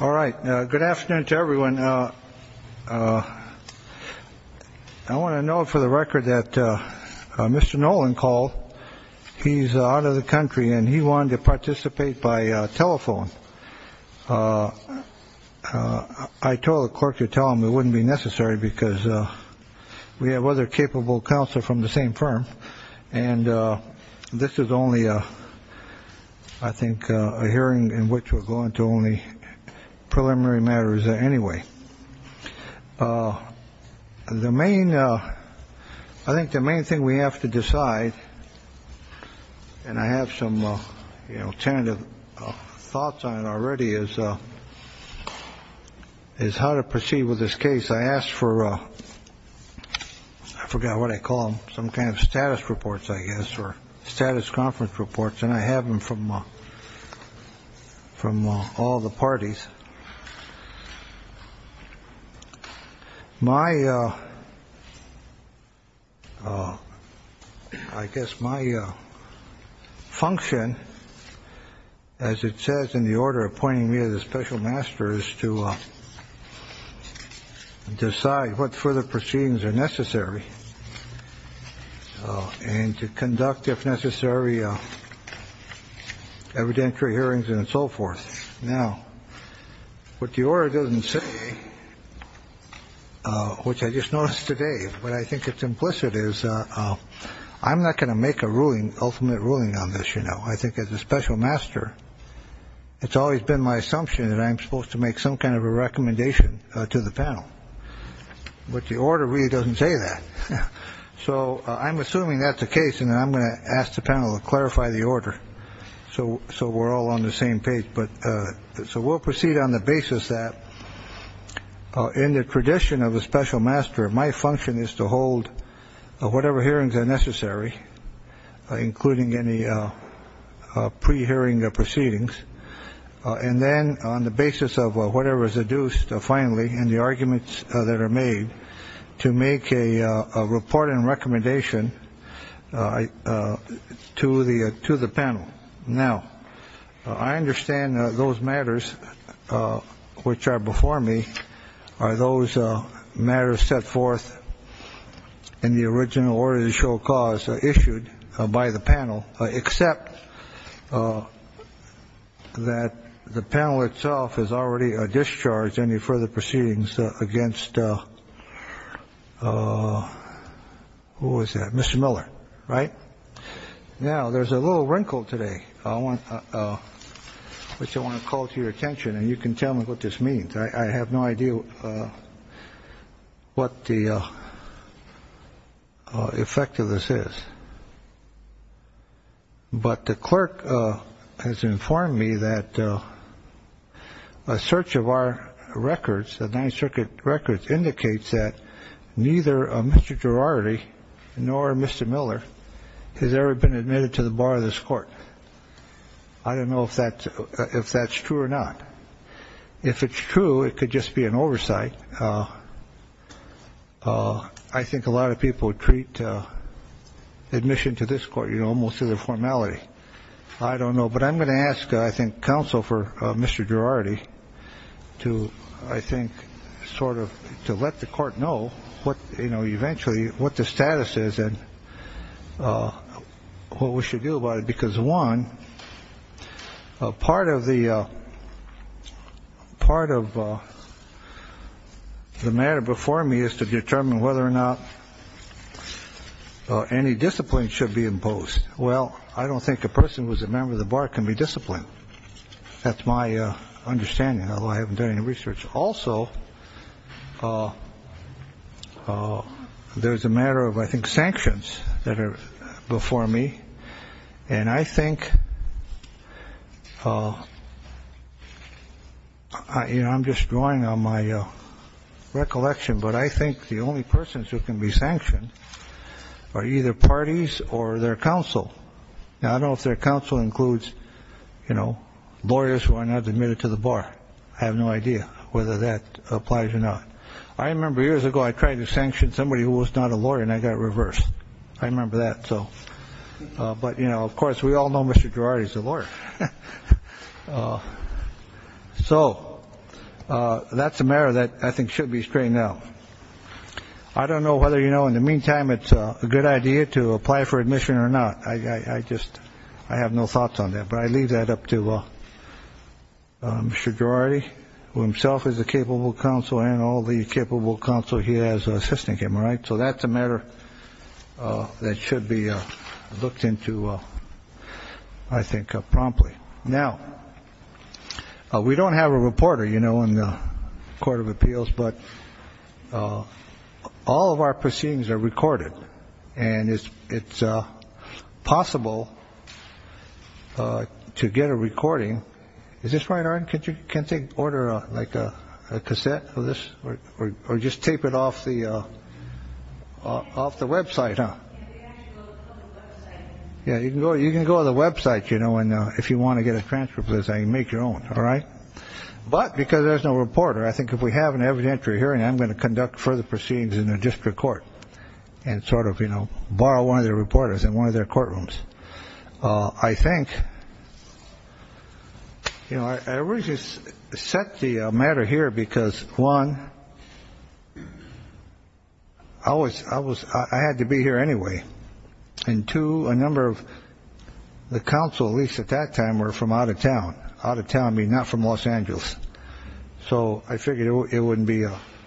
All right. Good afternoon to everyone. I want to note for the record that Mr. Nolan called. He's out of the country and he wanted to participate by telephone. I told the clerk to tell him it wouldn't be necessary because we have other capable counsel from the same firm. And this is only, I think, a hearing in which we're going to only preliminary matters anyway. The main I think the main thing we have to decide, and I have some tentative thoughts on it already, is how to proceed with this case. I asked for I forgot what I call them, some kind of status reports, I guess, or status conference reports. And I have them from from all the parties. My I guess my function, as it says, in the order appointing me as a special master is to decide what further proceedings are necessary and to conduct, if necessary, evidentiary hearings and so forth. Now, what the order doesn't say, which I just noticed today, but I think it's implicit is I'm not going to make a ruling ultimate ruling on this. You know, I think as a special master, it's always been my assumption that I'm supposed to make some kind of a recommendation to the panel. But the order really doesn't say that. So I'm assuming that the case and I'm going to ask the panel to clarify the order. So. So we're all on the same page. But so we'll proceed on the basis that in the tradition of a special master, my function is to hold whatever hearings are necessary, including any pre-hearing proceedings. And then on the basis of whatever is adduced, finally, and the arguments that are made to make a report and recommendation to the to the panel. Now, I understand those matters which are before me are those matters set forth in the original order to show cause issued by the panel, except that the panel itself has already discharged any further proceedings against. Who was that? Mr. Miller. Right. Now, there's a little wrinkle today. I want to call to your attention and you can tell me what this means. I have no idea what the effect of this is. But the clerk has informed me that a search of our records, the Ninth Circuit records, indicates that neither Mr. Girardi nor Mr. Miller has ever been admitted to the bar of this court. I don't know if that if that's true or not. If it's true, it could just be an oversight. I think a lot of people treat admission to this court, you know, most of the formality. I don't know. But I'm going to ask, I think, counsel for Mr. Girardi to, I think, sort of to let the court know what, you know, eventually what the status is and what we should do about it. Because one part of the part of the matter before me is to determine whether or not any discipline should be imposed. Well, I don't think a person was a member of the bar can be disciplined. That's my understanding. I haven't done any research. Also, there is a matter of, I think, sanctions that are before me. And I think, you know, I'm just drawing on my recollection. But I think the only persons who can be sanctioned are either parties or their counsel. Now, I don't know if their counsel includes, you know, lawyers who are not admitted to the bar. I have no idea whether that applies or not. I remember years ago I tried to sanction somebody who was not a lawyer and I got reversed. I remember that. So. But, you know, of course, we all know Mr. Girardi is a lawyer. So that's a matter that I think should be straightened out. I don't know whether, you know, in the meantime, it's a good idea to apply for admission or not. I just I have no thoughts on that. But I leave that up to Mr. Girardi, who himself is a capable counsel and all the capable counsel. He has assisting him. Right. So that's a matter that should be looked into. I think promptly now we don't have a reporter, you know, in the court of appeals, but all of our proceedings are recorded. And it's it's possible to get a recording. Is this right? Can you can take order like a cassette of this or just tape it off the off the Web site? Yeah, you can go you can go on the Web site, you know, and if you want to get a transfer, please make your own. All right. But because there's no reporter, I think if we have an evidentiary hearing, I'm going to conduct further proceedings in the district court and sort of, you know, borrow one of the reporters in one of their courtrooms. I think, you know, I really just set the matter here because one, I was I was I had to be here anyway. And to a number of the council, at least at that time, were from out of town, out of town, not from Los Angeles. So I figured it wouldn't be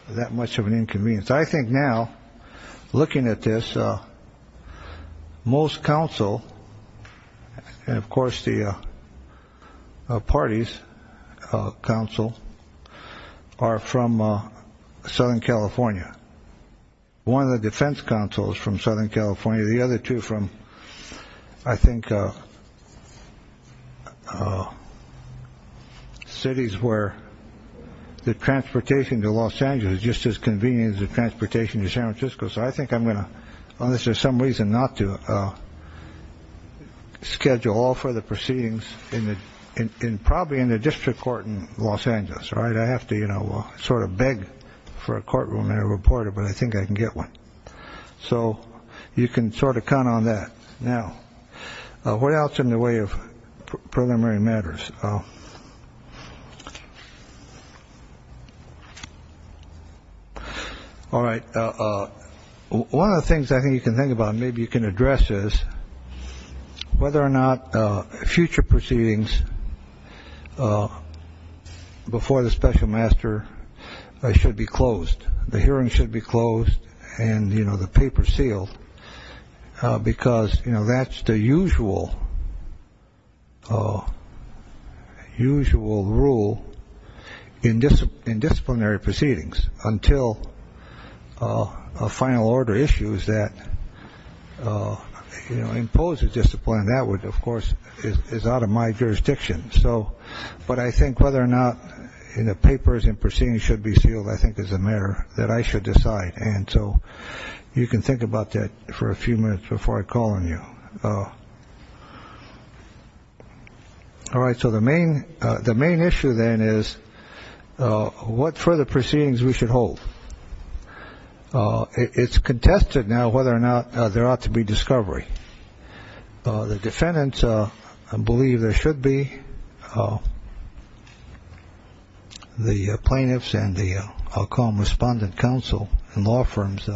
that much of an inconvenience. I think now looking at this, most council and of course, the parties council are from Southern California. One of the defense councils from Southern California, the other two from, I think. Oh, cities where the transportation to Los Angeles just as convenience of transportation to San Francisco. So I think I'm going to on this for some reason not to schedule all for the proceedings in the in probably in the district court in Los Angeles. All right. I have to, you know, sort of beg for a courtroom and a reporter, but I think I can get one. So you can sort of count on that. Now, what else in the way of preliminary matters? All right. One of the things I think you can think about, maybe you can address is whether or not future proceedings before the special master should be closed. The hearing should be closed. And, you know, the paper sealed because, you know, that's the usual. Usual rule in this disciplinary proceedings until a final order issues that impose a discipline that would, of course, is out of my jurisdiction. But I think whether or not in the papers and proceedings should be sealed, I think is a matter that I should decide. And so you can think about that for a few minutes before I call on you. All right. So the main the main issue then is what for the proceedings we should hold. It's contested now whether or not there ought to be discovery. The defendants believe there should be. The plaintiffs and the I'll call them respondent counsel and law firms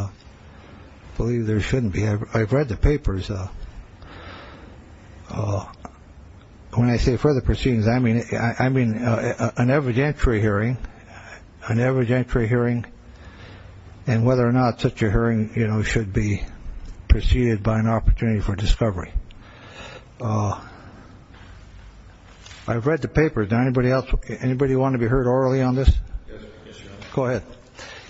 believe there shouldn't be. I've read the papers. When I say further proceedings, I mean, I mean, an evidentiary hearing, an evidentiary hearing. And whether or not such a hearing should be preceded by an opportunity for discovery. I've read the papers. Anybody else? Anybody want to be heard orally on this? Go ahead.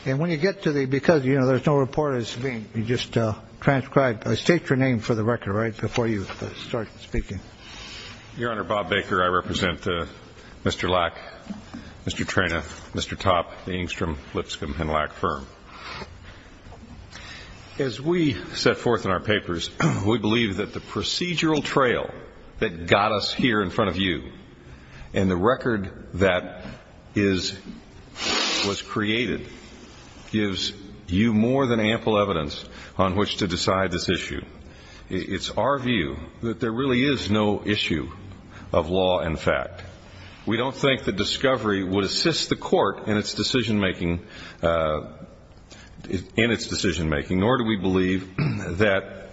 And when you get to the because, you know, there's no report is being just transcribed. I state your name for the record right before you start speaking. Your Honor, Bob Baker, I represent Mr. Lack, Mr. Trena, Mr. Topp, the Engstrom Lipscomb and Lack firm. As we set forth in our papers, we believe that the procedural trail that got us here in front of you and the record that is was created gives you more than ample evidence on which to decide this issue. It's our view that there really is no issue of law and fact. We don't think that discovery would assist the court in its decision making in its decision making, nor do we believe that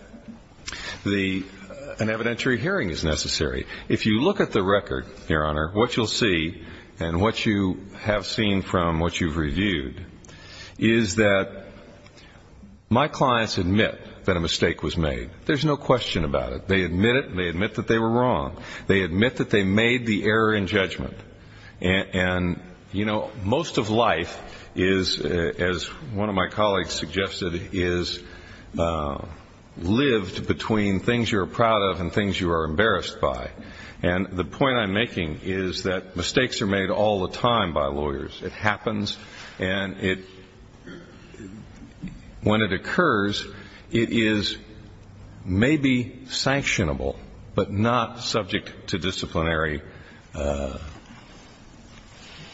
the an evidentiary hearing is necessary. If you look at the record, Your Honor, what you'll see and what you have seen from what you've reviewed is that my clients admit that a mistake was made. There's no question about it. They admit it. They admit that they were wrong. They admit that they made the error in judgment. And, you know, most of life is, as one of my colleagues suggested, is lived between things you are proud of and things you are embarrassed by. And the point I'm making is that mistakes are made all the time by lawyers. It happens and it when it occurs, it is maybe sanctionable, but not subject to disciplinary,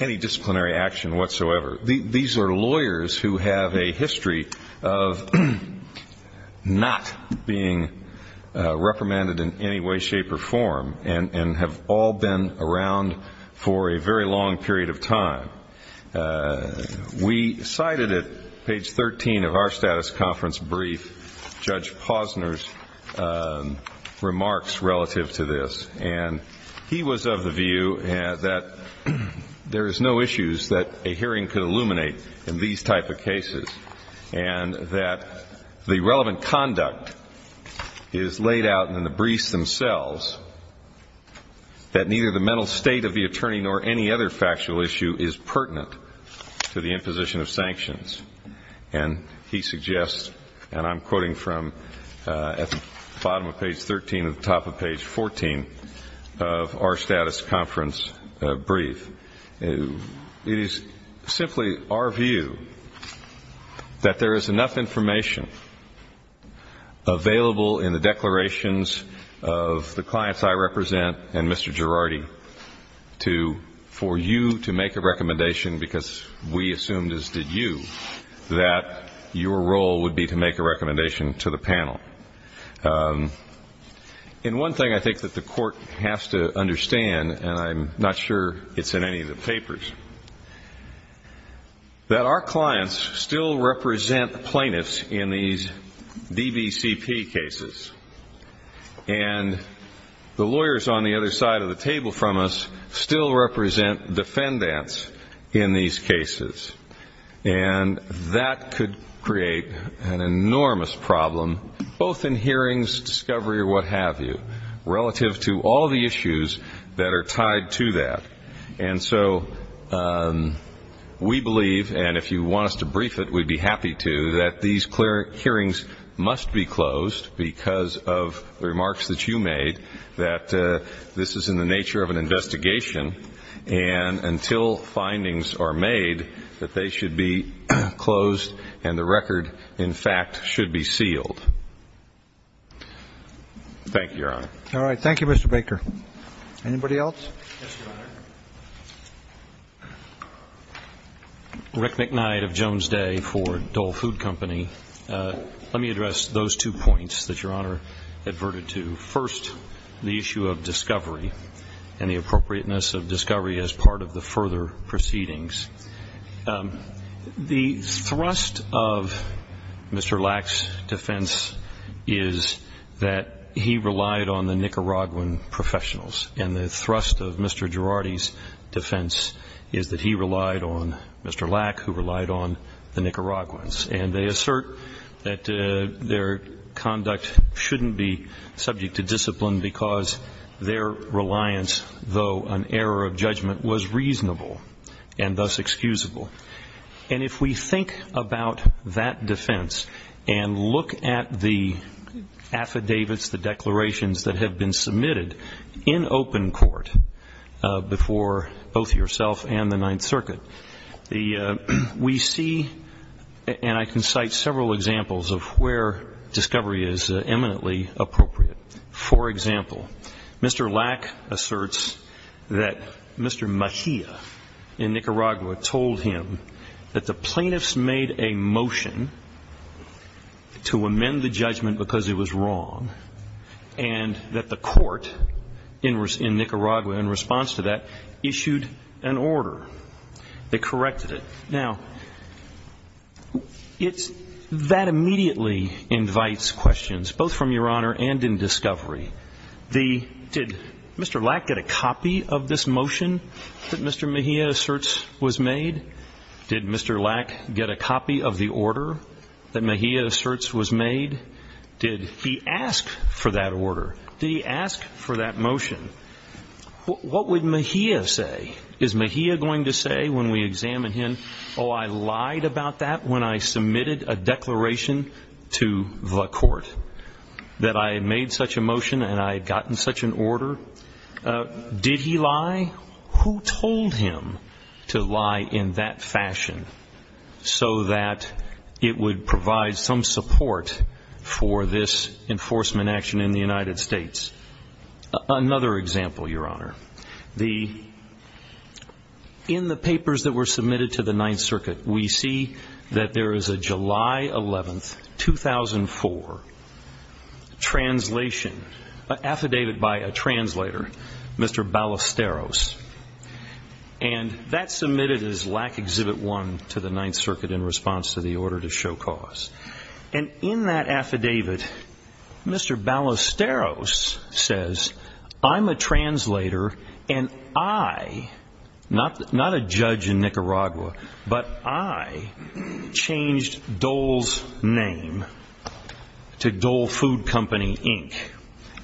any disciplinary action whatsoever. These are lawyers who have a history of not being reprimanded in any way, shape or form and have all been around for a very long period of time. We cited at page 13 of our status conference brief Judge Posner's remarks relative to this. And he was of the view that there is no issues that a hearing could illuminate in these type of cases, and that the relevant conduct is laid out in the briefs themselves, that neither the mental state of the attorney nor any other factual issue is pertinent to the imposition of sanctions. And he suggests, and I'm quoting from at the bottom of page 13 and the top of page 14 of our status conference brief, it is simply our view that there is enough information available in the declarations of the clients I represent and Mr. Girardi to, for you to make a recommendation, because we assumed as did you, that your role would be to make a recommendation to the panel. And one thing I think that the court has to understand, and I'm not sure it's in any of the papers, that our clients still represent plaintiffs in these DBCP cases. And the lawyers on the other side of the table from us still represent defendants in these cases. And that could create an enormous problem, both in hearings, discovery, or what have you, relative to all the issues that are tied to that. And so we believe, and if you want us to brief it, we'd be happy to, that these hearings must be closed because of the remarks that you made that this is in the nature of an investigation. And until findings are made that they should be closed and the record, in fact, should be sealed. Thank you, Your Honor. All right. Thank you, Mr. Baker. Anybody else? Yes, Your Honor. Rick McKnight of Jones Day for Dole Food Company. Let me address those two points that Your Honor adverted to. First, the issue of discovery and the appropriateness of discovery as part of the further proceedings. The thrust of Mr. Lack's defense is that he relied on the Nicaraguan professionals. And the thrust of Mr. Girardi's defense is that he relied on Mr. Lack, who relied on the Nicaraguans. And they assert that their conduct shouldn't be subject to discipline because their reliance, though an error of judgment, was reasonable and thus excusable. And if we think about that defense and look at the affidavits, the declarations that have been submitted in open court before both yourself and the Ninth Circuit, we see, and I can cite several examples of where discovery is eminently appropriate. For example, Mr. Lack asserts that Mr. Mejia in Nicaragua told him that the plaintiffs made a motion to amend the judgment because it was wrong and that the court in Nicaragua, in response to that, issued an order that corrected it. Now, that immediately invites questions, both from Your Honor and in discovery. Did Mr. Lack get a copy of this motion that Mr. Mejia asserts was made? Did Mr. Lack get a copy of the order that Mejia asserts was made? Did he ask for that order? Did he ask for that motion? What would Mejia say? Is Mejia going to say when we examine him, oh, I lied about that when I submitted a declaration to the court, that I made such a motion and I had gotten such an order? Did he lie? Who told him to lie in that fashion so that it would provide some support for this enforcement action in the United States? Another example, Your Honor, in the papers that were submitted to the Ninth Circuit, we see that there is a July 11, 2004, translation, affidavit by a translator, Mr. Ballesteros. And that's submitted as Lack Exhibit 1 to the Ninth Circuit in response to the order to show cause. And in that affidavit, Mr. Ballesteros says, I'm a translator and I, not a judge in Nicaragua, but I changed Dole's name to Dole Food Company, Inc.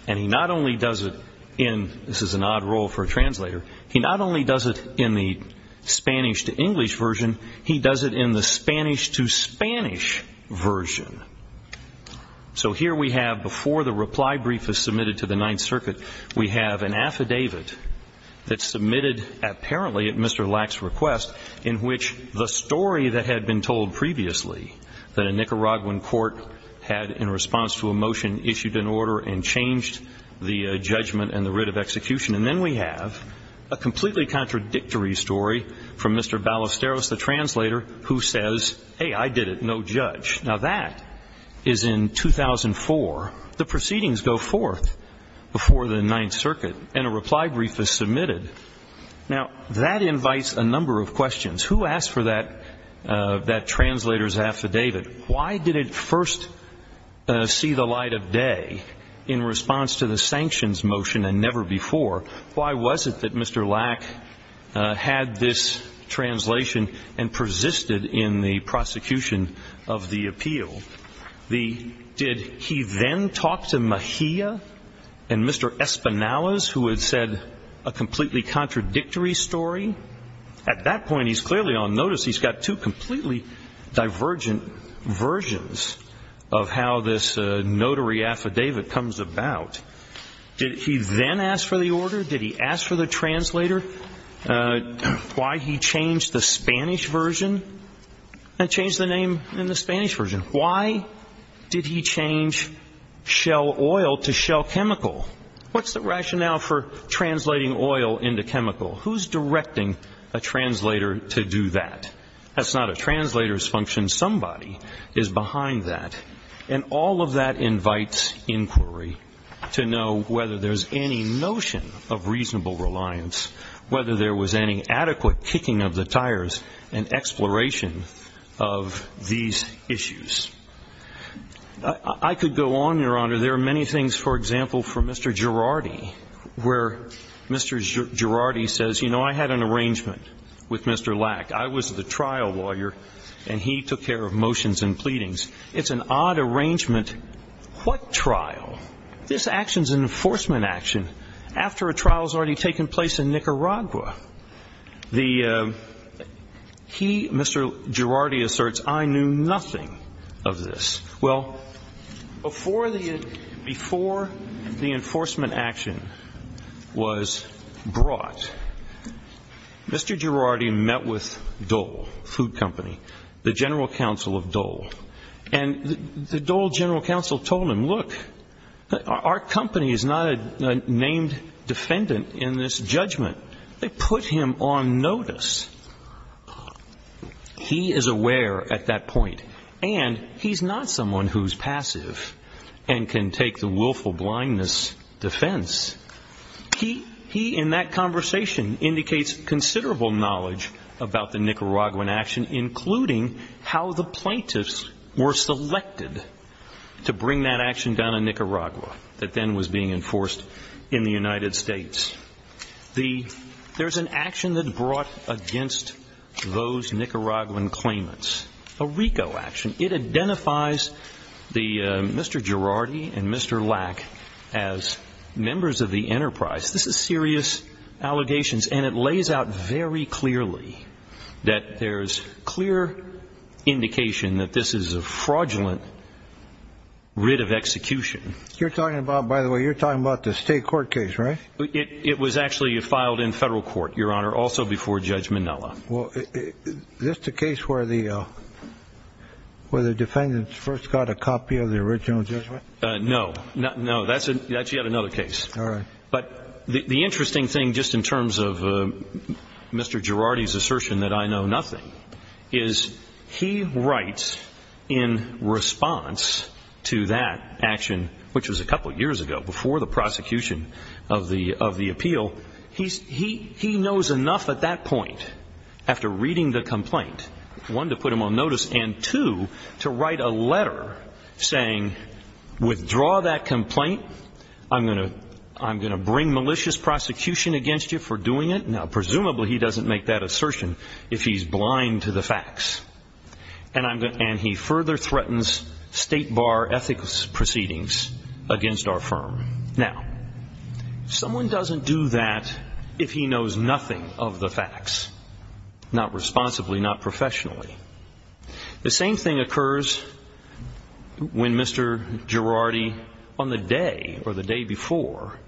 And he not only does it in, this is an odd role for a translator, he not only does it in the Spanish to English version, he does it in the Spanish to Spanish version. So here we have, before the reply brief is submitted to the Ninth Circuit, we have an affidavit that's submitted apparently at Mr. Lack's request, in which the story that had been told previously, that a Nicaraguan court had, in response to a motion, issued an order and changed the judgment and the writ of execution. And then we have a completely contradictory story from Mr. Ballesteros, the translator, who says, hey, I did it, no judge. Now, that is in 2004. The proceedings go forth before the Ninth Circuit and a reply brief is submitted. Now, that invites a number of questions. Who asked for that translator's affidavit? Why did it first see the light of day in response to the sanctions motion and never before? Why was it that Mr. Lack had this translation and persisted in the prosecution of the appeal? Did he then talk to Mejia and Mr. Espinales, who had said a completely contradictory story? At that point, he's clearly on notice. He's got two completely divergent versions of how this notary affidavit comes about. Did he then ask for the order? Did he ask for the translator? Why he changed the Spanish version and changed the name in the Spanish version? Why did he change shell oil to shell chemical? What's the rationale for translating oil into chemical? Who's directing a translator to do that? That's not a translator's function. Somebody is behind that. And all of that invites inquiry to know whether there's any notion of reasonable reliance, whether there was any adequate kicking of the tires and exploration of these issues. I could go on, Your Honor. There are many things, for example, for Mr. Girardi, where Mr. Girardi says, you know, I had an arrangement with Mr. Lack. I was the trial lawyer, and he took care of motions and pleadings. It's an odd arrangement. What trial? This action is an enforcement action after a trial has already taken place in Nicaragua. He, Mr. Girardi, asserts, I knew nothing of this. Well, before the enforcement action was brought, Mr. Girardi met with Dole Food Company, the general counsel of Dole. And the Dole general counsel told him, look, our company is not a named defendant in this judgment. They put him on notice. He is aware at that point. And he's not someone who's passive and can take the willful blindness defense. He, in that conversation, indicates considerable knowledge about the Nicaraguan action, including how the plaintiffs were selected to bring that action down in Nicaragua, that then was being enforced in the United States. There's an action that's brought against those Nicaraguan claimants, a RICO action. It identifies Mr. Girardi and Mr. Lack as members of the enterprise. This is serious allegations. And it lays out very clearly that there's clear indication that this is a fraudulent writ of execution. You're talking about, by the way, you're talking about the state court case, right? It was actually filed in federal court, Your Honor, also before Judge Minella. Well, is this the case where the defendants first got a copy of the original judgment? No. No, that's yet another case. All right. But the interesting thing, just in terms of Mr. Girardi's assertion that I know nothing, is he writes in response to that action, which was a couple years ago, before the prosecution of the appeal, he knows enough at that point, after reading the complaint, one, to put him on notice, and two, to write a letter saying, withdraw that complaint. I'm going to bring malicious prosecution against you for doing it. Now, presumably he doesn't make that assertion if he's blind to the facts. And he further threatens state bar ethics proceedings against our firm. Now, someone doesn't do that if he knows nothing of the facts, not responsibly, not professionally. The same thing occurs when Mr. Girardi, on the day, or the day before,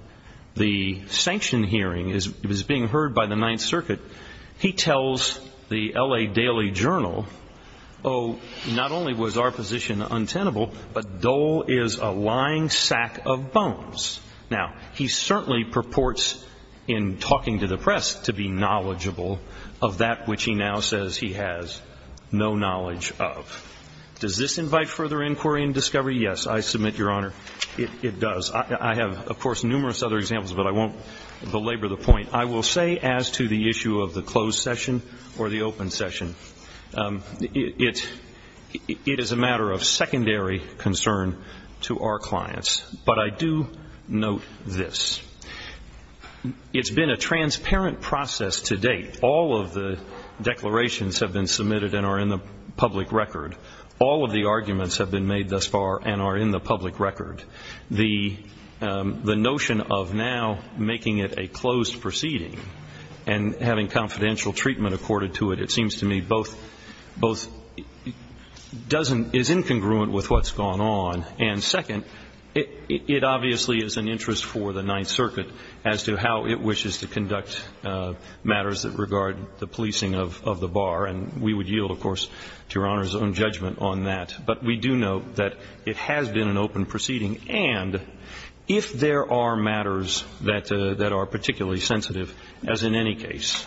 the sanction hearing was being heard by the Ninth Circuit. He tells the L.A. Daily Journal, oh, not only was our position untenable, but Dole is a lying sack of bones. Now, he certainly purports in talking to the press to be knowledgeable of that which he now says he has no knowledge of. Does this invite further inquiry and discovery? Yes, I submit, Your Honor, it does. I have, of course, numerous other examples, but I won't belabor the point. I will say, as to the issue of the closed session or the open session, it is a matter of secondary concern to our clients. But I do note this. It's been a transparent process to date. All of the declarations have been submitted and are in the public record. All of the arguments have been made thus far and are in the public record. The notion of now making it a closed proceeding and having confidential treatment accorded to it, it seems to me, both doesn't, is incongruent with what's gone on. And second, it obviously is an interest for the Ninth Circuit as to how it wishes to conduct matters that regard the policing of the bar. And we would yield, of course, to Your Honor's own judgment on that. But we do note that it has been an open proceeding. And if there are matters that are particularly sensitive, as in any case,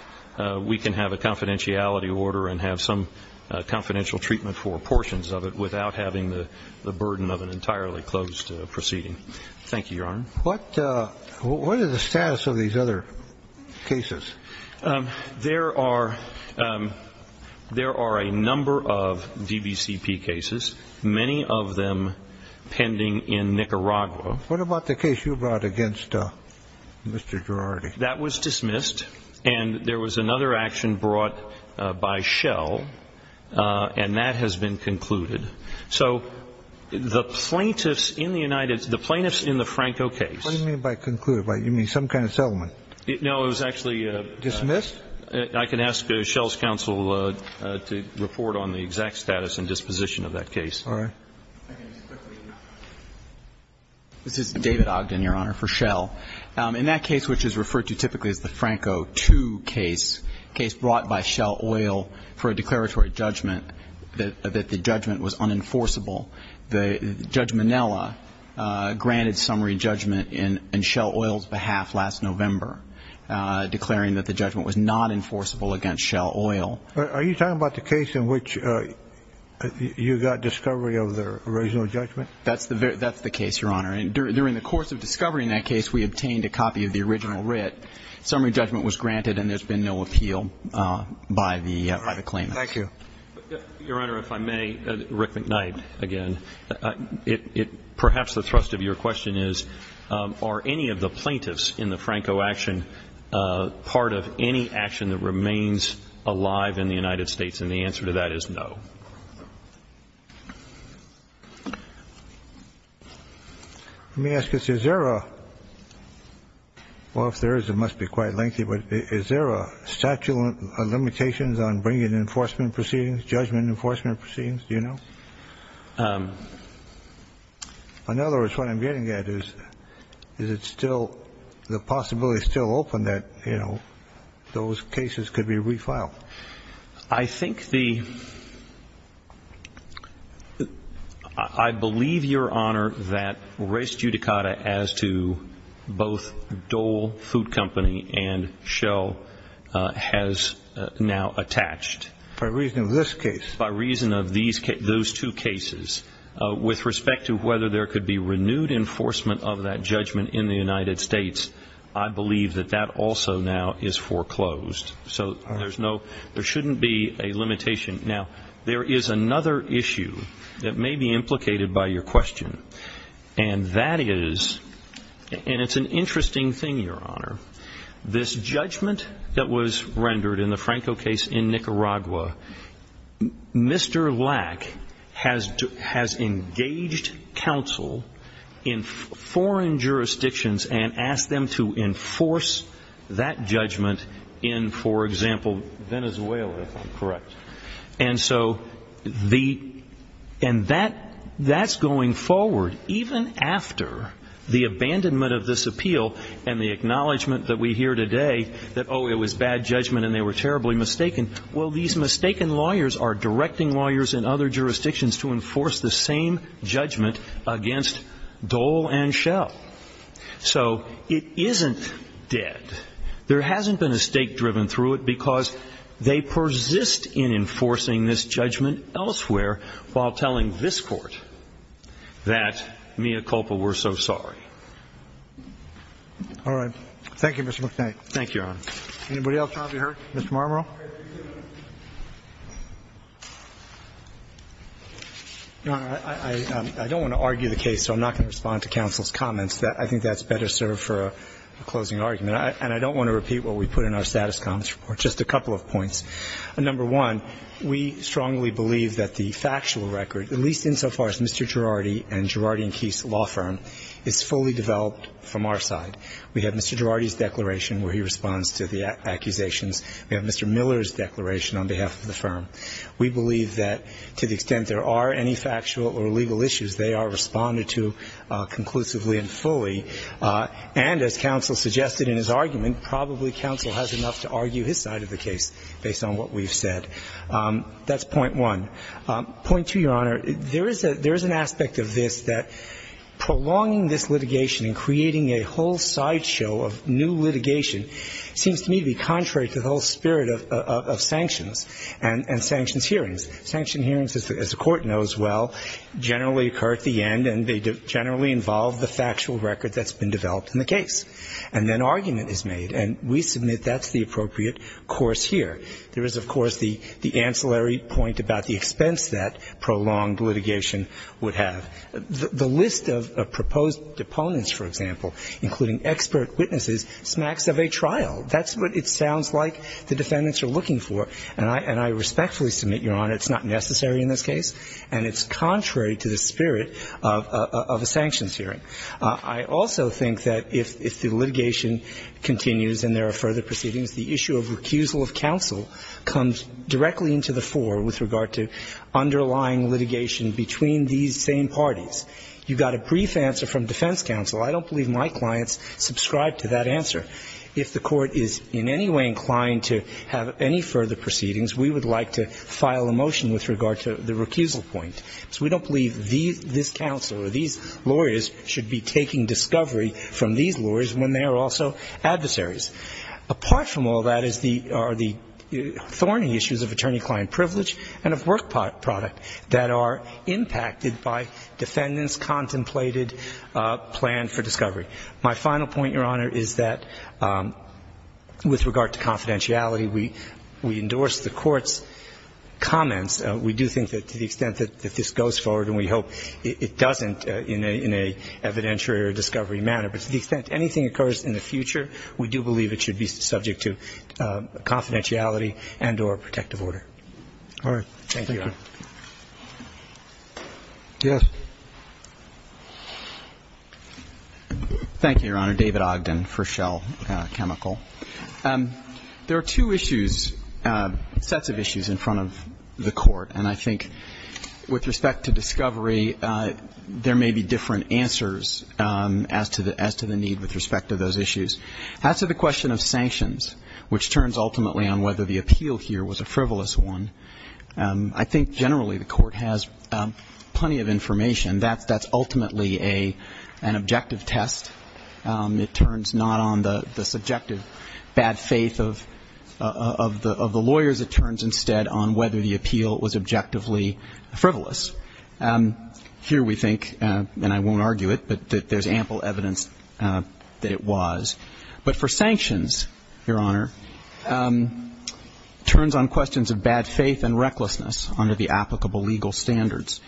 we can have a confidentiality order and have some confidential treatment for portions of it without having the burden of an entirely closed proceeding. Thank you, Your Honor. What is the status of these other cases? There are a number of DBCP cases, many of them pending in Nicaragua. What about the case you brought against Mr. Girardi? That was dismissed. And there was another action brought by Schell, and that has been concluded. So the plaintiffs in the United States, the plaintiffs in the Franco case. What do you mean by concluded? You mean some kind of settlement? No, it was actually a ---- Dismissed? I can ask Schell's counsel to report on the exact status and disposition of that case. All right. This is David Ogden, Your Honor, for Schell. In that case, which is referred to typically as the Franco II case, a case brought by Schell Oil for a declaratory judgment that the judgment was unenforceable, Judge Minella granted summary judgment in Schell Oil's behalf last November, declaring that the judgment was not enforceable against Schell Oil. Are you talking about the case in which you got discovery of the original judgment? That's the case, Your Honor. And during the course of discovering that case, we obtained a copy of the original writ. Summary judgment was granted, and there's been no appeal by the claimant. Thank you. Your Honor, if I may, Rick McKnight again. Perhaps the thrust of your question is, are any of the plaintiffs in the Franco action part of any action that remains alive in the United States? And the answer to that is no. Let me ask this. Is there a – well, if there is, it must be quite lengthy. But is there a statute of limitations on bringing enforcement proceedings, judgment enforcement proceedings? Do you know? In other words, what I'm getting at is, is it still – the possibility is still open that, you know, those cases could be refiled. I think the – I believe, Your Honor, that res judicata as to both Dole Food Company and Schell has now attached. By reason of this case? By reason of these – those two cases. With respect to whether there could be renewed enforcement of that judgment in the United States, I believe that that also now is foreclosed. So there's no – there shouldn't be a limitation. Now, there is another issue that may be implicated by your question. And that is – and it's an interesting thing, Your Honor. This judgment that was rendered in the Franco case in Nicaragua, Mr. Lack has engaged counsel in foreign jurisdictions and asked them to enforce that judgment in, for example, Venezuela. Correct. And so the – and that's going forward, even after the abandonment of this appeal and the acknowledgement that we hear today that, oh, it was bad judgment and they were terribly mistaken. Well, these mistaken lawyers are directing lawyers in other jurisdictions to enforce the same judgment against Dole and Schell. So it isn't dead. There hasn't been a stake driven through it because they persist in enforcing this judgment elsewhere while telling this Court that, mea culpa, we're so sorry. All right. Thank you, Your Honor. Anybody else have you heard? Mr. Marmorell. Your Honor, I don't want to argue the case, so I'm not going to respond to counsel's comments. I think that's better served for a closing argument. And I don't want to repeat what we put in our status comments report. Just a couple of points. Number one, we strongly believe that the factual record, at least insofar as Mr. Girardi and Girardi and Keith's law firm, is fully developed from our side. We have Mr. Girardi's declaration where he responds to the accusations. We have Mr. Miller's declaration on behalf of the firm. We believe that to the extent there are any factual or legal issues, they are responded to conclusively and fully. And as counsel suggested in his argument, probably counsel has enough to argue his side of the case based on what we've said. That's point one. Point two, Your Honor, there is an aspect of this that prolonging this litigation and creating a whole sideshow of new litigation seems to me to be contrary to the whole spirit of sanctions and sanctions hearings. Sanctions hearings, as the Court knows well, generally occur at the end and they generally involve the factual record that's been developed in the case. And then argument is made. And we submit that's the appropriate course here. There is, of course, the ancillary point about the expense that prolonged litigation would have. The list of proposed opponents, for example, including expert witnesses, smacks of a trial. That's what it sounds like the defendants are looking for. And I respectfully submit, Your Honor, it's not necessary in this case and it's contrary to the spirit of a sanctions hearing. I also think that if the litigation continues and there are further proceedings, the issue of recusal of counsel comes directly into the fore with regard to underlying litigation between these same parties. You got a brief answer from defense counsel. I don't believe my clients subscribe to that answer. If the Court is in any way inclined to have any further proceedings, we would like to file a motion with regard to the recusal point. So we don't believe this counsel or these lawyers should be taking discovery from these lawyers when they are also adversaries. Apart from all that are the thorny issues of attorney-client privilege and of work product that are impacted by defendants' contemplated plan for discovery. My final point, Your Honor, is that with regard to confidentiality, we endorse the Court's comments. We do think that to the extent that this goes forward, and we hope it doesn't in an evidentiary or discovery manner. But to the extent anything occurs in the future, we do believe it should be subject to confidentiality and or protective order. All right. Thank you, Your Honor. Yes. Thank you, Your Honor. David Ogden for Shell Chemical. There are two issues, sets of issues in front of the Court. And I think with respect to discovery, there may be different answers as to the need with respect to those issues. As to the question of sanctions, which turns ultimately on whether the appeal here was a frivolous one, I think generally the Court has plenty of information. That's ultimately an objective test. It turns not on the subjective bad faith of the lawyers. It turns instead on whether the appeal was objectively frivolous. Here we think, and I won't argue it, but there's ample evidence that it was. But for sanctions, Your Honor, it turns on questions of bad faith and recklessness under the applicable legal standards.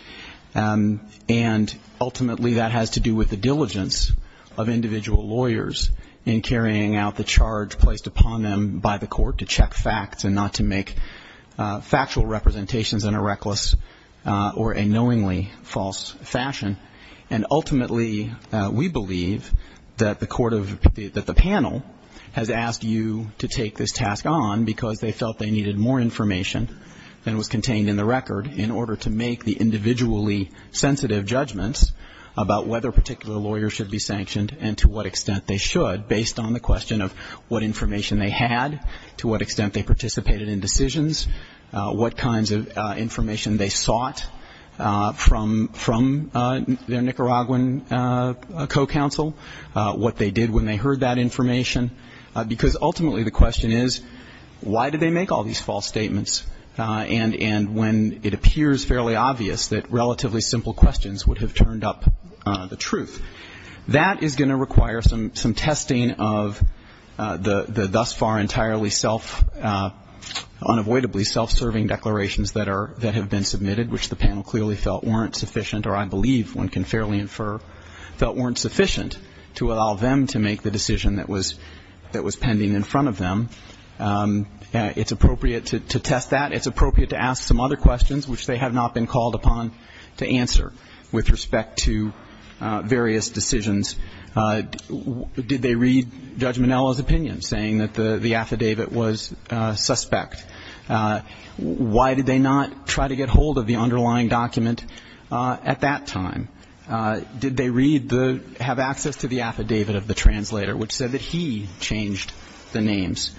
And ultimately that has to do with the diligence of individual lawyers in carrying out the charge placed upon them by the Court to check facts and not to make factual representations in a reckless or a knowingly false fashion. And ultimately we believe that the Court of the panel has asked you to take this task on because they felt they needed more information than was contained in the record in order to make the individually sensitive judgments about whether a particular lawyer should be sanctioned and to what extent they should based on the question of what information they had, to what extent they participated in decisions, what kinds of information they sought from their Nicaraguan co-counsel, what they did when they heard that information. Because ultimately the question is, why did they make all these false statements? And when it appears fairly obvious that relatively simple questions would have turned up the truth. That is going to require some testing of the thus far entirely self, unavoidably self-serving declarations that have been submitted, which the panel clearly felt weren't sufficient or I believe one can fairly infer felt weren't sufficient to allow them to make the decision that was pending in front of them. It's appropriate to test that. It's appropriate to ask some other questions which they have not been called upon to answer with respect to various decisions. Did they read Judge Minello's opinion saying that the affidavit was suspect? Why did they not try to get hold of the underlying document at that time? Did they read the, have access to the affidavit of the translator which said that he changed the names?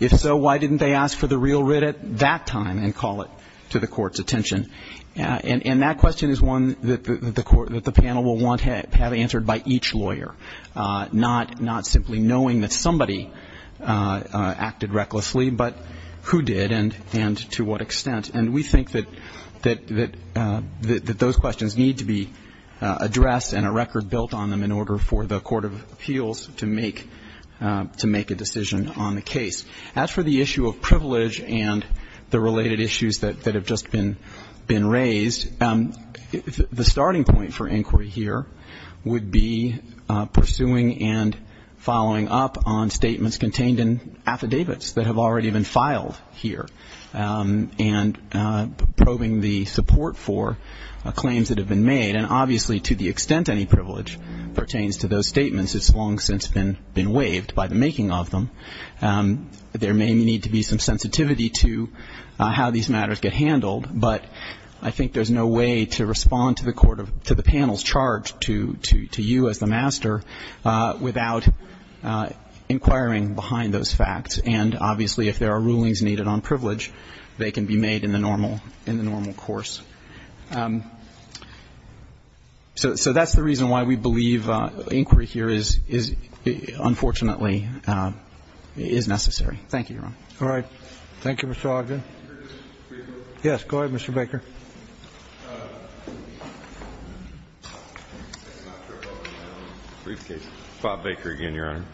If so, why didn't they ask for the real writ at that time and call it to the court's attention? And that question is one that the panel will want to have answered by each lawyer, not simply knowing that somebody acted recklessly, but who did and to what extent. And we think that those questions need to be addressed and a record built on them in order for the Court of Appeals to make a decision on the case. As for the issue of privilege and the related issues that have just been raised, the starting point for inquiry here would be pursuing and following up on statements contained in affidavits that have already been filed here and probing the support for claims that have been made. And obviously to the extent any privilege pertains to those statements, it's long since been waived by the making of them. There may need to be some sensitivity to how these matters get handled, but I think there's no way to respond to the panel's charge to you as the master without inquiring behind those facts. And obviously if there are rulings needed on privilege, they can be made in the normal course. So that's the reason why we believe inquiry here is, unfortunately, is necessary. Thank you, Your Honor. All right. Thank you, Mr. Ogden. Yes, go ahead, Mr. Baker. Briefcase. Bob Baker again, Your Honor.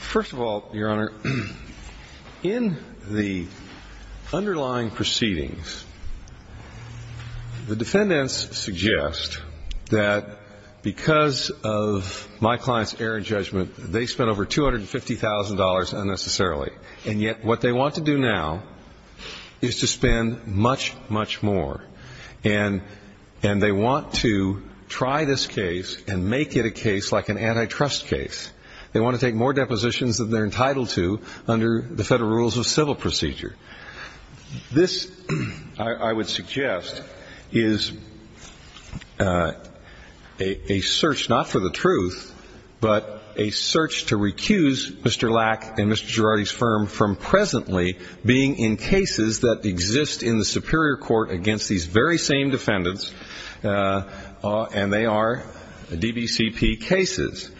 First of all, Your Honor, in the underlying proceedings, the defendants suggest that because of my client's error in judgment, they spent over $250,000 unnecessarily. And yet what they want to do now is to spend much, much more. And they want to try this case and make it a case like an antitrust case. They want to take more depositions than they're entitled to under the federal rules of civil procedure. This, I would suggest, is a search not for the truth, but a search to recuse Mr. Lack and Mr. Girardi's firm from presently being in cases that exist in the superior court against these very same defendants, and they are DBCP cases.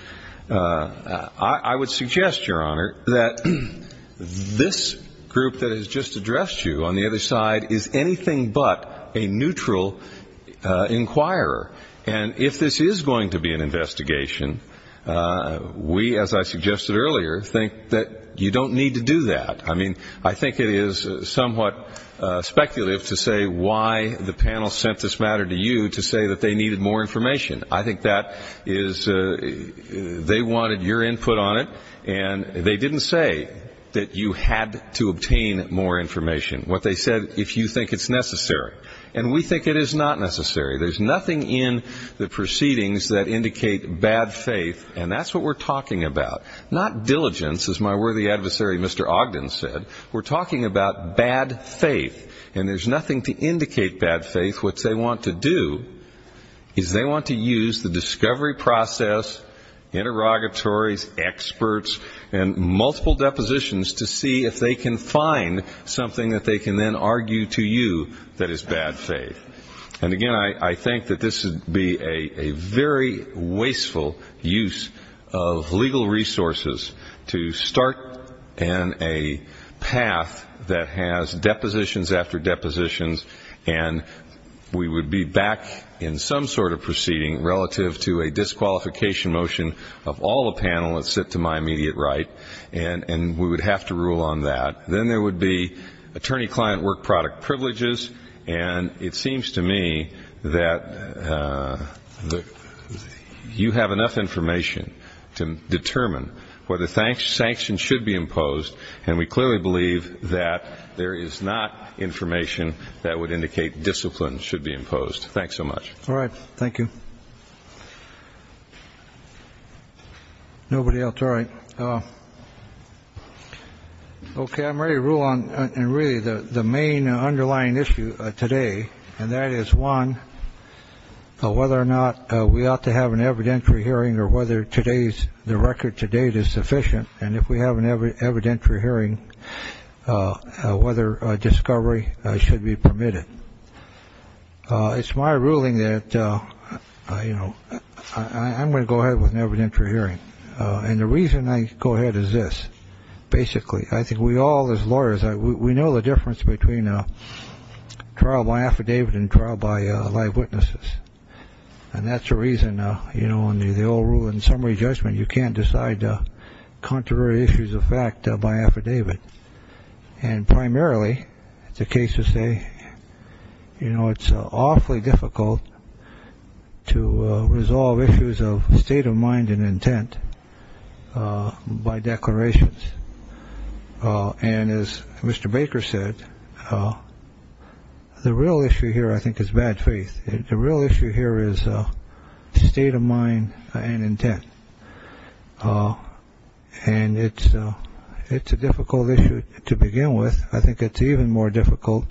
I would suggest, Your Honor, that this group that has just addressed you on the other side is anything but a neutral inquirer. And if this is going to be an investigation, we, as I suggested earlier, think that you don't need to do that. I mean, I think it is somewhat speculative to say why the panel sent this matter to you to say that they needed more information. I think that is they wanted your input on it, and they didn't say that you had to obtain more information. What they said, if you think it's necessary. And we think it is not necessary. There's nothing in the proceedings that indicate bad faith, and that's what we're talking about. Not diligence, as my worthy adversary, Mr. Ogden, said. We're talking about bad faith, and there's nothing to indicate bad faith. What they want to do is they want to use the discovery process, interrogatories, experts, and multiple depositions to see if they can find something that they can then argue to you that is bad faith. And, again, I think that this would be a very wasteful use of legal resources to start in a path that has depositions after depositions, and we would be back in some sort of proceeding relative to a disqualification motion of all the panelists that sit to my immediate right, and we would have to rule on that. Then there would be attorney-client work product privileges, and it seems to me that you have enough information to determine whether sanctions should be imposed, and we clearly believe that there is not information that would indicate discipline should be imposed. Thanks so much. All right. Thank you. Nobody else? All right. OK, I'm ready to rule on really the main underlying issue today, and that is one, whether or not we ought to have an evidentiary hearing or whether today's the record to date is sufficient. And if we have an evidentiary hearing, whether discovery should be permitted. It's my ruling that, you know, I'm going to go ahead with an evidentiary hearing. And the reason I go ahead is this. Basically, I think we all, as lawyers, we know the difference between trial by affidavit and trial by live witnesses. And that's the reason, you know, in the old rule in summary judgment, you can't decide contrary issues of fact by affidavit. And primarily it's a case to say, you know, it's awfully difficult to resolve issues of state of mind and intent by declarations. And as Mr. Baker said, the real issue here, I think, is bad faith. The real issue here is state of mind and intent. And it's it's a difficult issue to begin with. I think it's even more difficult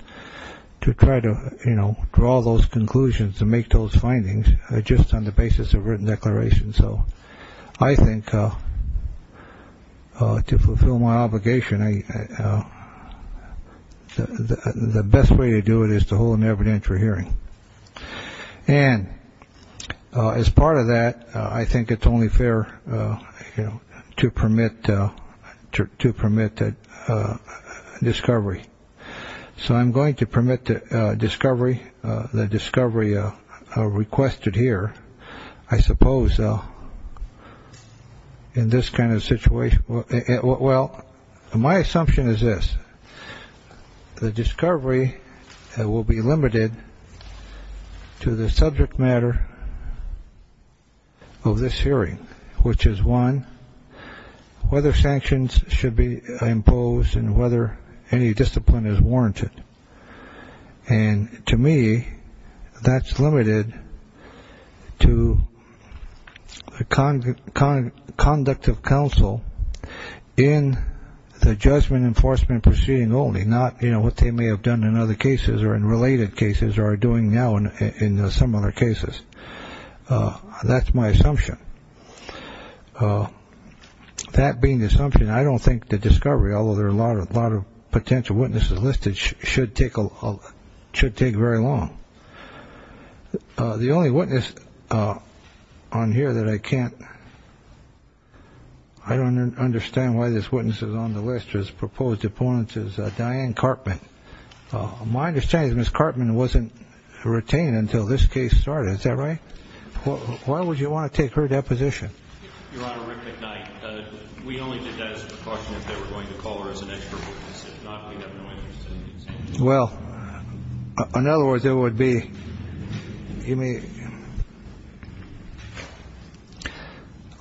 to try to, you know, draw those conclusions to make those findings just on the basis of written declarations. So I think to fulfill my obligation, the best way to do it is to hold an evidentiary hearing. And as part of that, I think it's only fair to permit to permit that discovery. So I'm going to permit to discovery the discovery requested here, I suppose. So in this kind of situation. Well, my assumption is this. The discovery that will be limited to the subject matter of this hearing, which is one, whether sanctions should be imposed and whether any discipline is warranted. And to me, that's limited to the conduct of counsel in the judgment enforcement proceeding only, not, you know, what they may have done in other cases or in related cases or are doing now in some other cases. That's my assumption. That being the assumption, I don't think the discovery, although there are a lot of a lot of potential witnesses listed should take a should take very long. The only witness on here that I can't. I don't understand why this witness is on the list. His proposed opponent is Diane Cartman. My understanding is Ms. Cartman wasn't retained until this case started. Is that right? Why would you want to take her deposition? You're on a rhythmic night. We only did that as a precaution if they were going to call her as an expert. Well, in other words, it would be. You mean.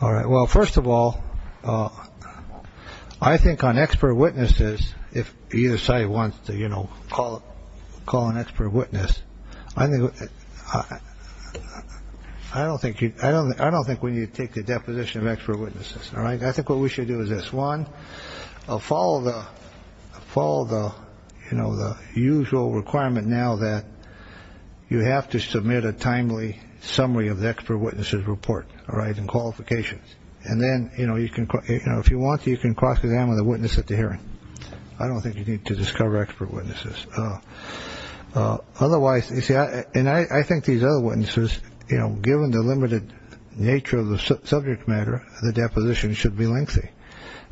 All right. Well, first of all, I think on expert witnesses, if you decide you want to, you know, call call an expert witness. I think I don't think I don't I don't think we need to take the deposition of expert witnesses. All right. I think what we should do is this one. I'll follow the fall. The you know, the usual requirement now that you have to submit a timely summary of the expert witnesses report. All right. And qualifications. And then, you know, you can if you want to, you can cross examine the witness at the hearing. I don't think you need to discover expert witnesses. Otherwise, you see, and I think these other witnesses, you know, given the limited nature of the subject matter, the deposition should be lengthy.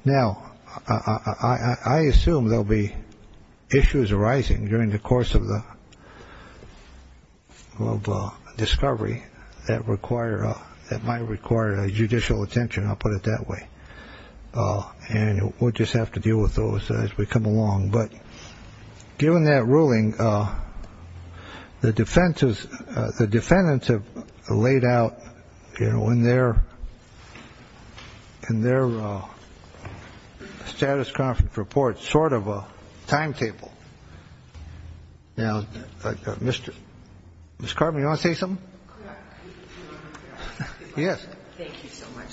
Now, I assume there'll be issues arising during the course of the discovery that require that might require judicial attention. I'll put it that way. And we'll just have to deal with those as we come along. But given that ruling, the defense is the defendants have laid out, you know, when they're in their status conference report, sort of a timetable. Now, Mr. Ms. Carter, you want to say something? Yes. Thank you so much,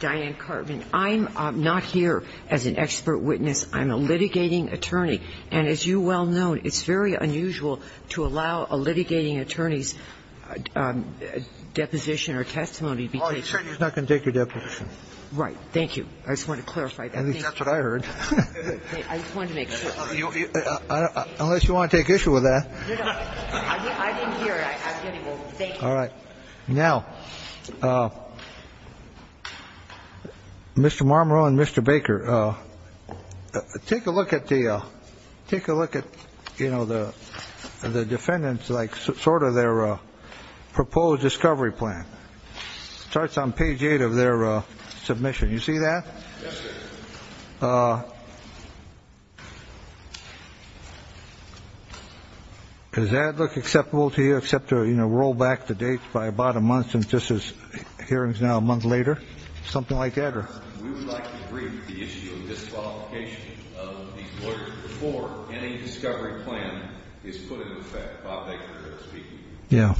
Diane. Mr. Carvin, I'm not here as an expert witness. I'm a litigating attorney. And as you well know, it's very unusual to allow a litigating attorney's deposition or testimony to be taken. Oh, you're saying he's not going to take your deposition. Right. Thank you. I just wanted to clarify that. I think that's what I heard. I just wanted to make sure. Unless you want to take issue with that. No, no. I didn't hear it. I didn't. Well, thank you. All right. Now, Mr. Marmorow and Mr. Baker, take a look at the take a look at, you know, the the defendants like sort of their proposed discovery plan starts on page eight of their submission. You see that? Does that look acceptable to you except to, you know, roll back the dates by about a month? And this is hearings now a month later. Something like that or. Yeah. Yeah.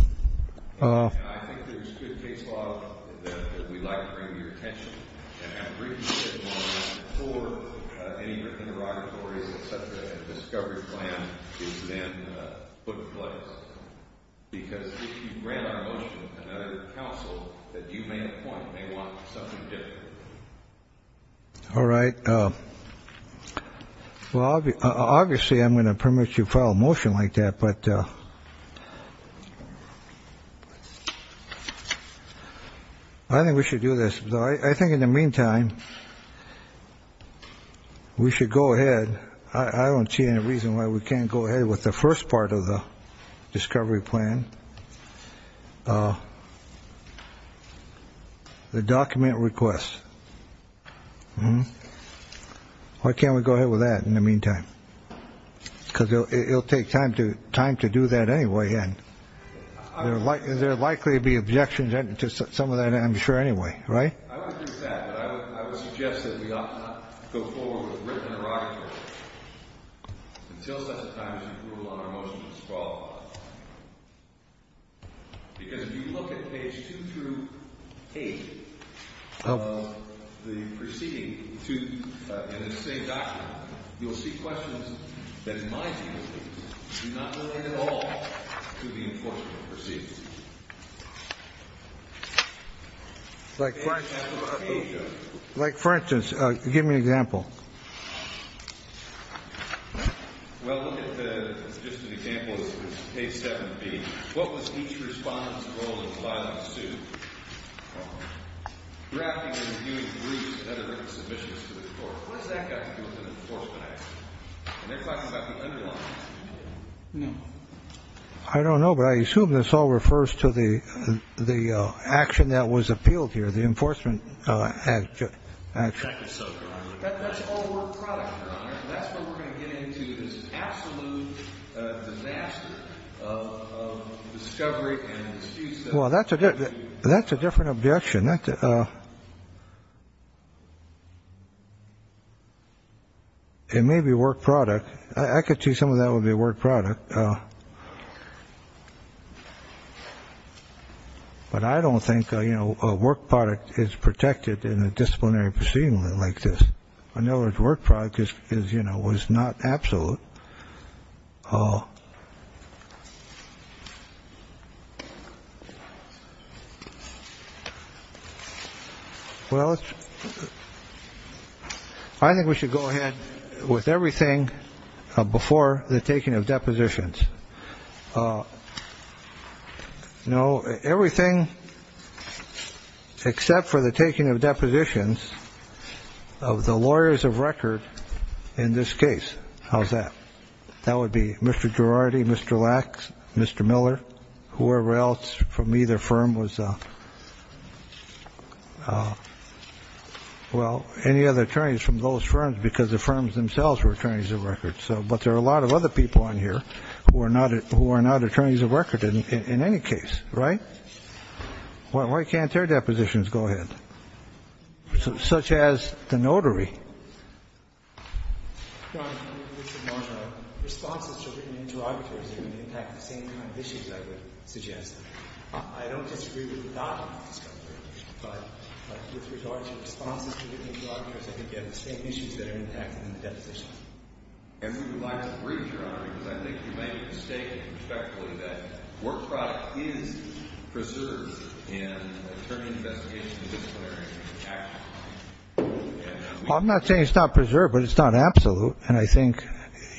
All right. Well, obviously, I'm going to permit you file a motion like that, but. I think we should do this. I think in the meantime, we should go ahead. I don't see any reason why we can't go ahead with the first part of the discovery plan. Oh, the document request. Why can't we go ahead with that in the meantime? Because it'll take time to time to do that anyway. And I would like there likely to be objections to some of that. I'm sure anyway. Right. I would suggest that we go forward with written. Because if you look at page two through eight of the proceeding to the same document, you'll see questions. Oh, like, like, for instance, give me an example. Well, just an example of a seven. What was each response? I don't know. But I assume this all refers to the the action that was appealed here. The enforcement. Well, that's a that's a different objection. It may be a work product. I could see some of that would be a work product. But. But I don't think, you know, a work product is protected in a disciplinary proceeding like this. I know it's work practice is, you know, was not absolute. Oh. Well, I think we should go ahead with everything before the taking of depositions. No. Everything except for the taking of depositions of the lawyers of record in this case. How's that? That would be Mr. Girardi, Mr. Lacks, Mr. Miller, whoever else from either firm was. Well, any other attorneys from those firms because the firms themselves were attorneys of record. So but there are a lot of other people on here who are not who are not attorneys of record in any case. Right. Well, why can't their depositions go ahead, such as the notary? Responses to written interrogators impact the same kind of issues, I would suggest. I don't disagree with that. But with regard to responses to the same issues that are impacted in the deposition. And we would like to read your honor, because I think you made a mistake. I'm not saying it's not preserved, but it's not absolute. And I think,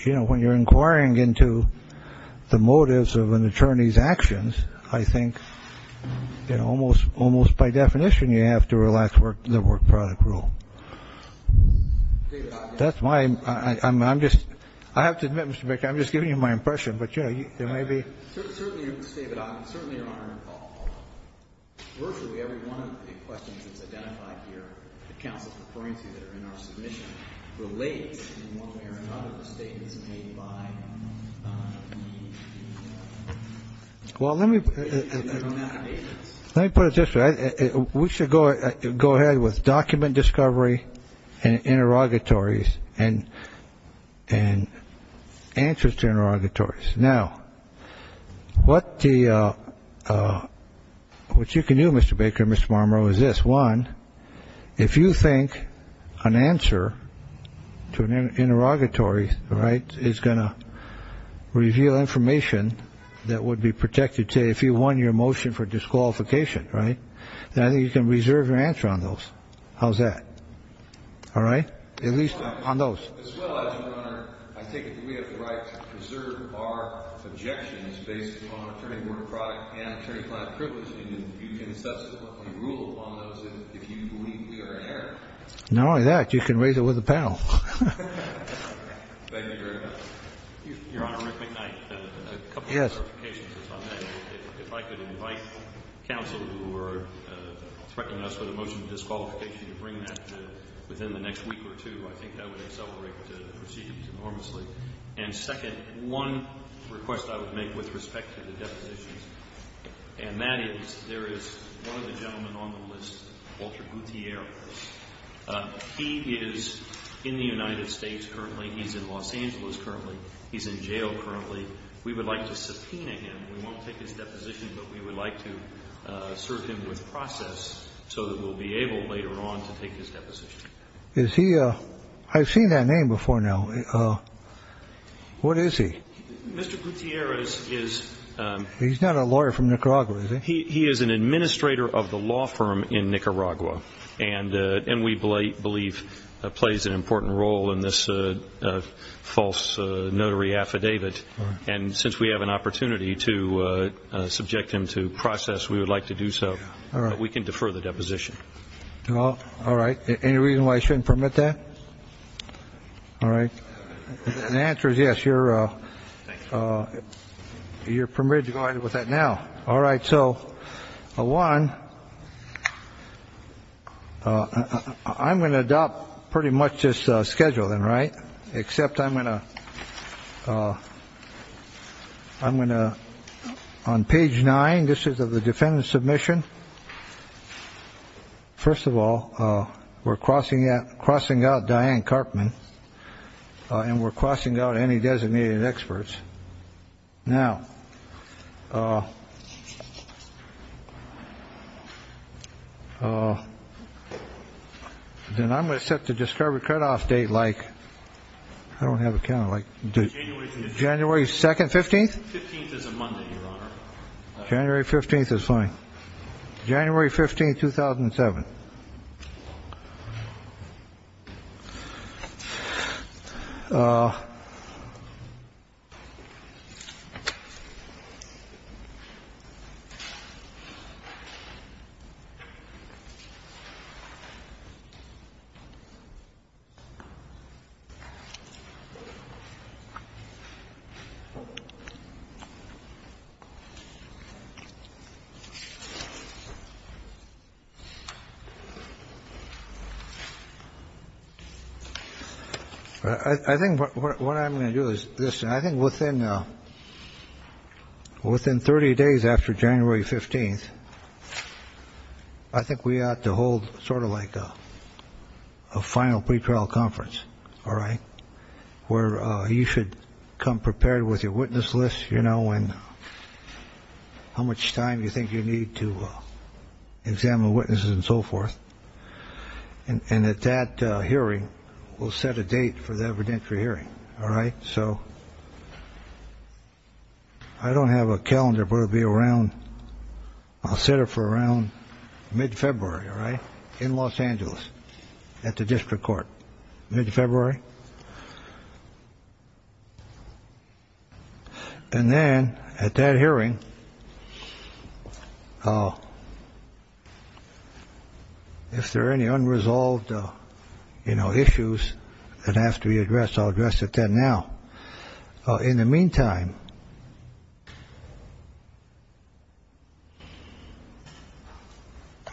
you know, when you're inquiring into the motives of an attorney's actions, I think, you know, almost almost by definition, you have to relax the work product rule. That's why I'm I'm just I have to admit, Mr. Baker, I'm just giving you my impression. But, you know, there may be. Certainly, certainly. Virtually every one of the questions is identified here. The counsel brings you that are in our submission relates in one way or another statements made by. Well, let me let me put it this way. We should go go ahead with document discovery and interrogatories and and answers to interrogatories. Now, what the what you can do, Mr. Baker, Mr. Marmorow, is this one. If you think an answer to an interrogatory. Right. It's going to reveal information that would be protected to if you won your motion for disqualification. Right. Now you can reserve your answer on those. How's that? All right. At least on those. I think we have the right to preserve our objections based on attorney work product and attorney client privilege. And you can subsequently rule upon those if you believe we are in error. Not only that, you can raise it with the panel. Thank you very much, Your Honor. Yes. If I could invite counsel who are threatening us with a motion of disqualification to bring that within the next week or two, I think that would accelerate the proceedings enormously. And second, one request I would make with respect to the depositions. And that is there is one of the gentlemen on the list, Walter Gutierrez. He is in the United States. Currently, he's in Los Angeles. Currently, he's in jail. Currently, we would like to subpoena him. We won't take his deposition, but we would like to serve him with process so that we'll be able later on to take his deposition. Is he? I've seen that name before now. What is he? Mr. Gutierrez is. He's not a lawyer from Nicaragua. He is an administrator of the law firm in Nicaragua. And we believe plays an important role in this false notary affidavit. And since we have an opportunity to subject him to process, we would like to do so. We can defer the deposition. All right. Any reason why I shouldn't permit that? All right. The answer is yes. You're you're permitted to go ahead with that now. All right. So a one. I'm going to adopt pretty much this schedule then. Right. Except I'm going to I'm going to on page nine. This is the defendant submission. First of all, we're crossing that crossing out Diane Carpman and we're crossing out any designated experts now. Oh, oh. Then I'm going to set the discovered cutoff date like I don't have a kind of like January 2nd, 15th, 15th is a Monday. January 15th is fine. January 15th, 2007. All right. I think what I'm going to do is this. And I think within within 30 days after January 15th, I think we ought to hold sort of like a final pretrial conference. All right. Where you should come prepared with your witness list, you know, and how much time you think you need to examine witnesses and so forth. And at that hearing, we'll set a date for the evidentiary hearing. All right. So I don't have a calendar, but I'll be around. I'll set up for around mid-February. All right. In Los Angeles at the district court. Mid-February. And then at that hearing. If there are any unresolved issues that have to be addressed, I'll address it then. Now, in the meantime,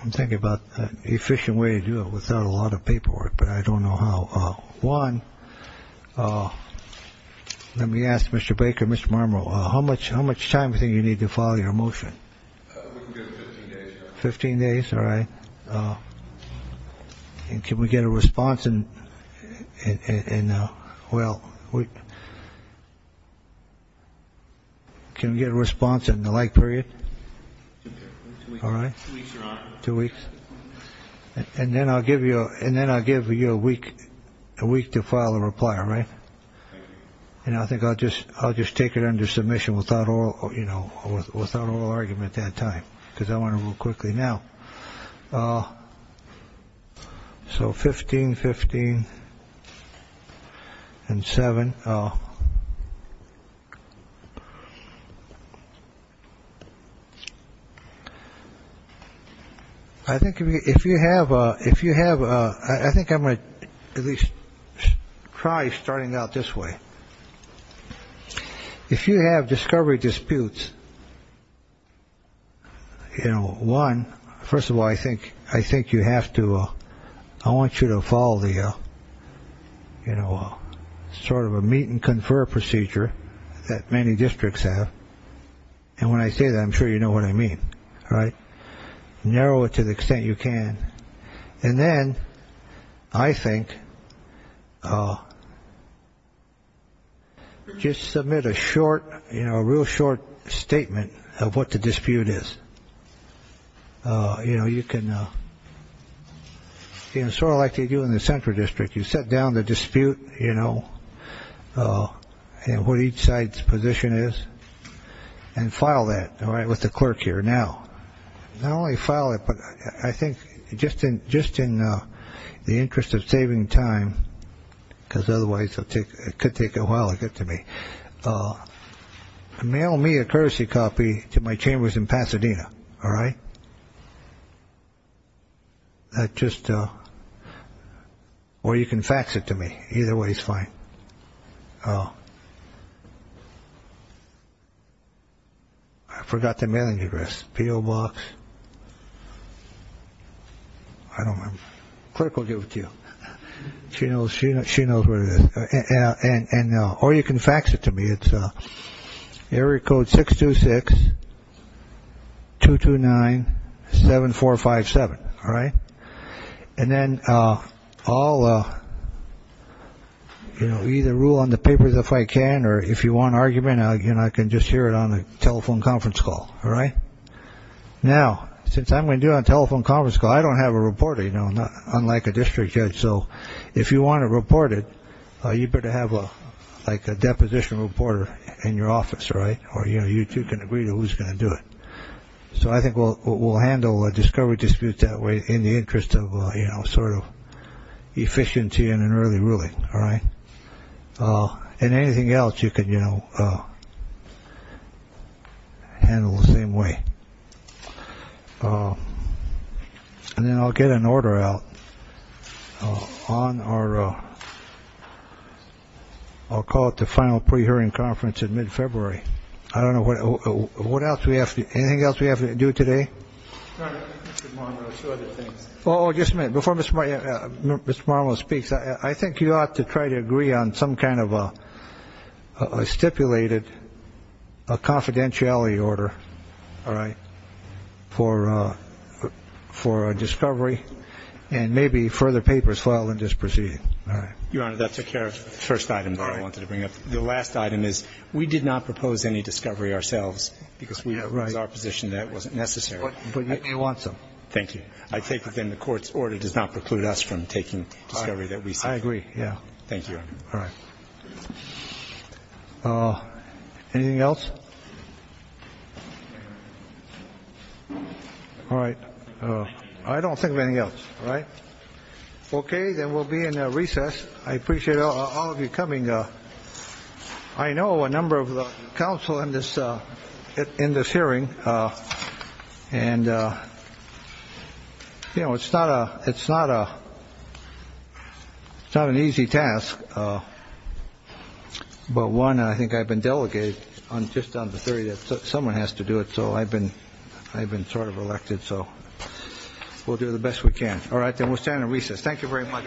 I'm thinking about an efficient way to do it without a lot of paperwork. But I don't know how. One, let me ask Mr. Baker, Mr. Marmorell, how much how much time do you need to file your motion? Fifteen days. All right. And can we get a response? And well, we can get a response in the like period. All right. Two weeks. And then I'll give you and then I'll give you a week, a week to file a reply. All right. And I think I'll just I'll just take it under submission without all, you know, without all argument that time because I want to move quickly now. So 15, 15 and seven. Oh. I think if you have a if you have a I think I might at least try starting out this way. If you have discovery disputes. You know, one, first of all, I think I think you have to. I want you to follow the, you know, sort of a meet and confer procedure that many districts have. And when I say that, I'm sure you know what I mean. All right. Narrow it to the extent you can. And then I think just submit a short, you know, a real short statement of what the dispute is. You know, you can sort of like you do in the central district. You set down the dispute, you know, and what each side's position is and file that. All right. With the clerk here now, not only file it, but I think just in just in the interest of saving time, because otherwise it could take a while to get to me, mail me a courtesy copy to my chambers in Pasadena. All right. That just or you can fax it to me. Either way is fine. I forgot the mailing address. P.O. Box. I don't want to give it to you. She knows, she knows, she knows where it is. And or you can fax it to me. It's Eric code six to six, two to nine, seven, four, five, seven. All right. And then I'll either rule on the papers if I can. Or if you want argument, you know, I can just hear it on a telephone conference call. All right. Now, since I'm going to do a telephone conference call, I don't have a reporter, you know, unlike a district judge. So if you want to report it, you better have a like a deposition reporter in your office. Right. Or, you know, you two can agree to who's going to do it. So I think we'll we'll handle a discovery dispute that way in the interest of, you know, sort of efficiency and an early ruling. All right. And anything else you could, you know, handle the same way. And then I'll get an order out on our. I'll call it the final pre-hearing conference in mid-February. I don't know what else we have. Anything else we have to do today. Oh, just a minute before Mr. Marlow speaks. I think you ought to try to agree on some kind of a stipulated confidentiality order. All right. For for discovery and maybe further papers file and just proceed. Your Honor, that took care of the first item that I wanted to bring up. The last item is we did not propose any discovery ourselves because we are right. We have a position that wasn't necessary. But you want some. Thank you. I think within the court's order does not preclude us from taking everything. We agree. Yeah. Thank you. All right. Anything else? All right. I don't think of anything else. Right. OK. Then we'll be in a recess. I appreciate all of you coming. I know a number of the council in this in this hearing. And, you know, it's not a it's not a it's not an easy task. But one, I think I've been delegated on just on the 30th. Someone has to do it. So I've been I've been sort of elected. So we'll do the best we can. All right. Then we'll stand in recess. Thank you very much.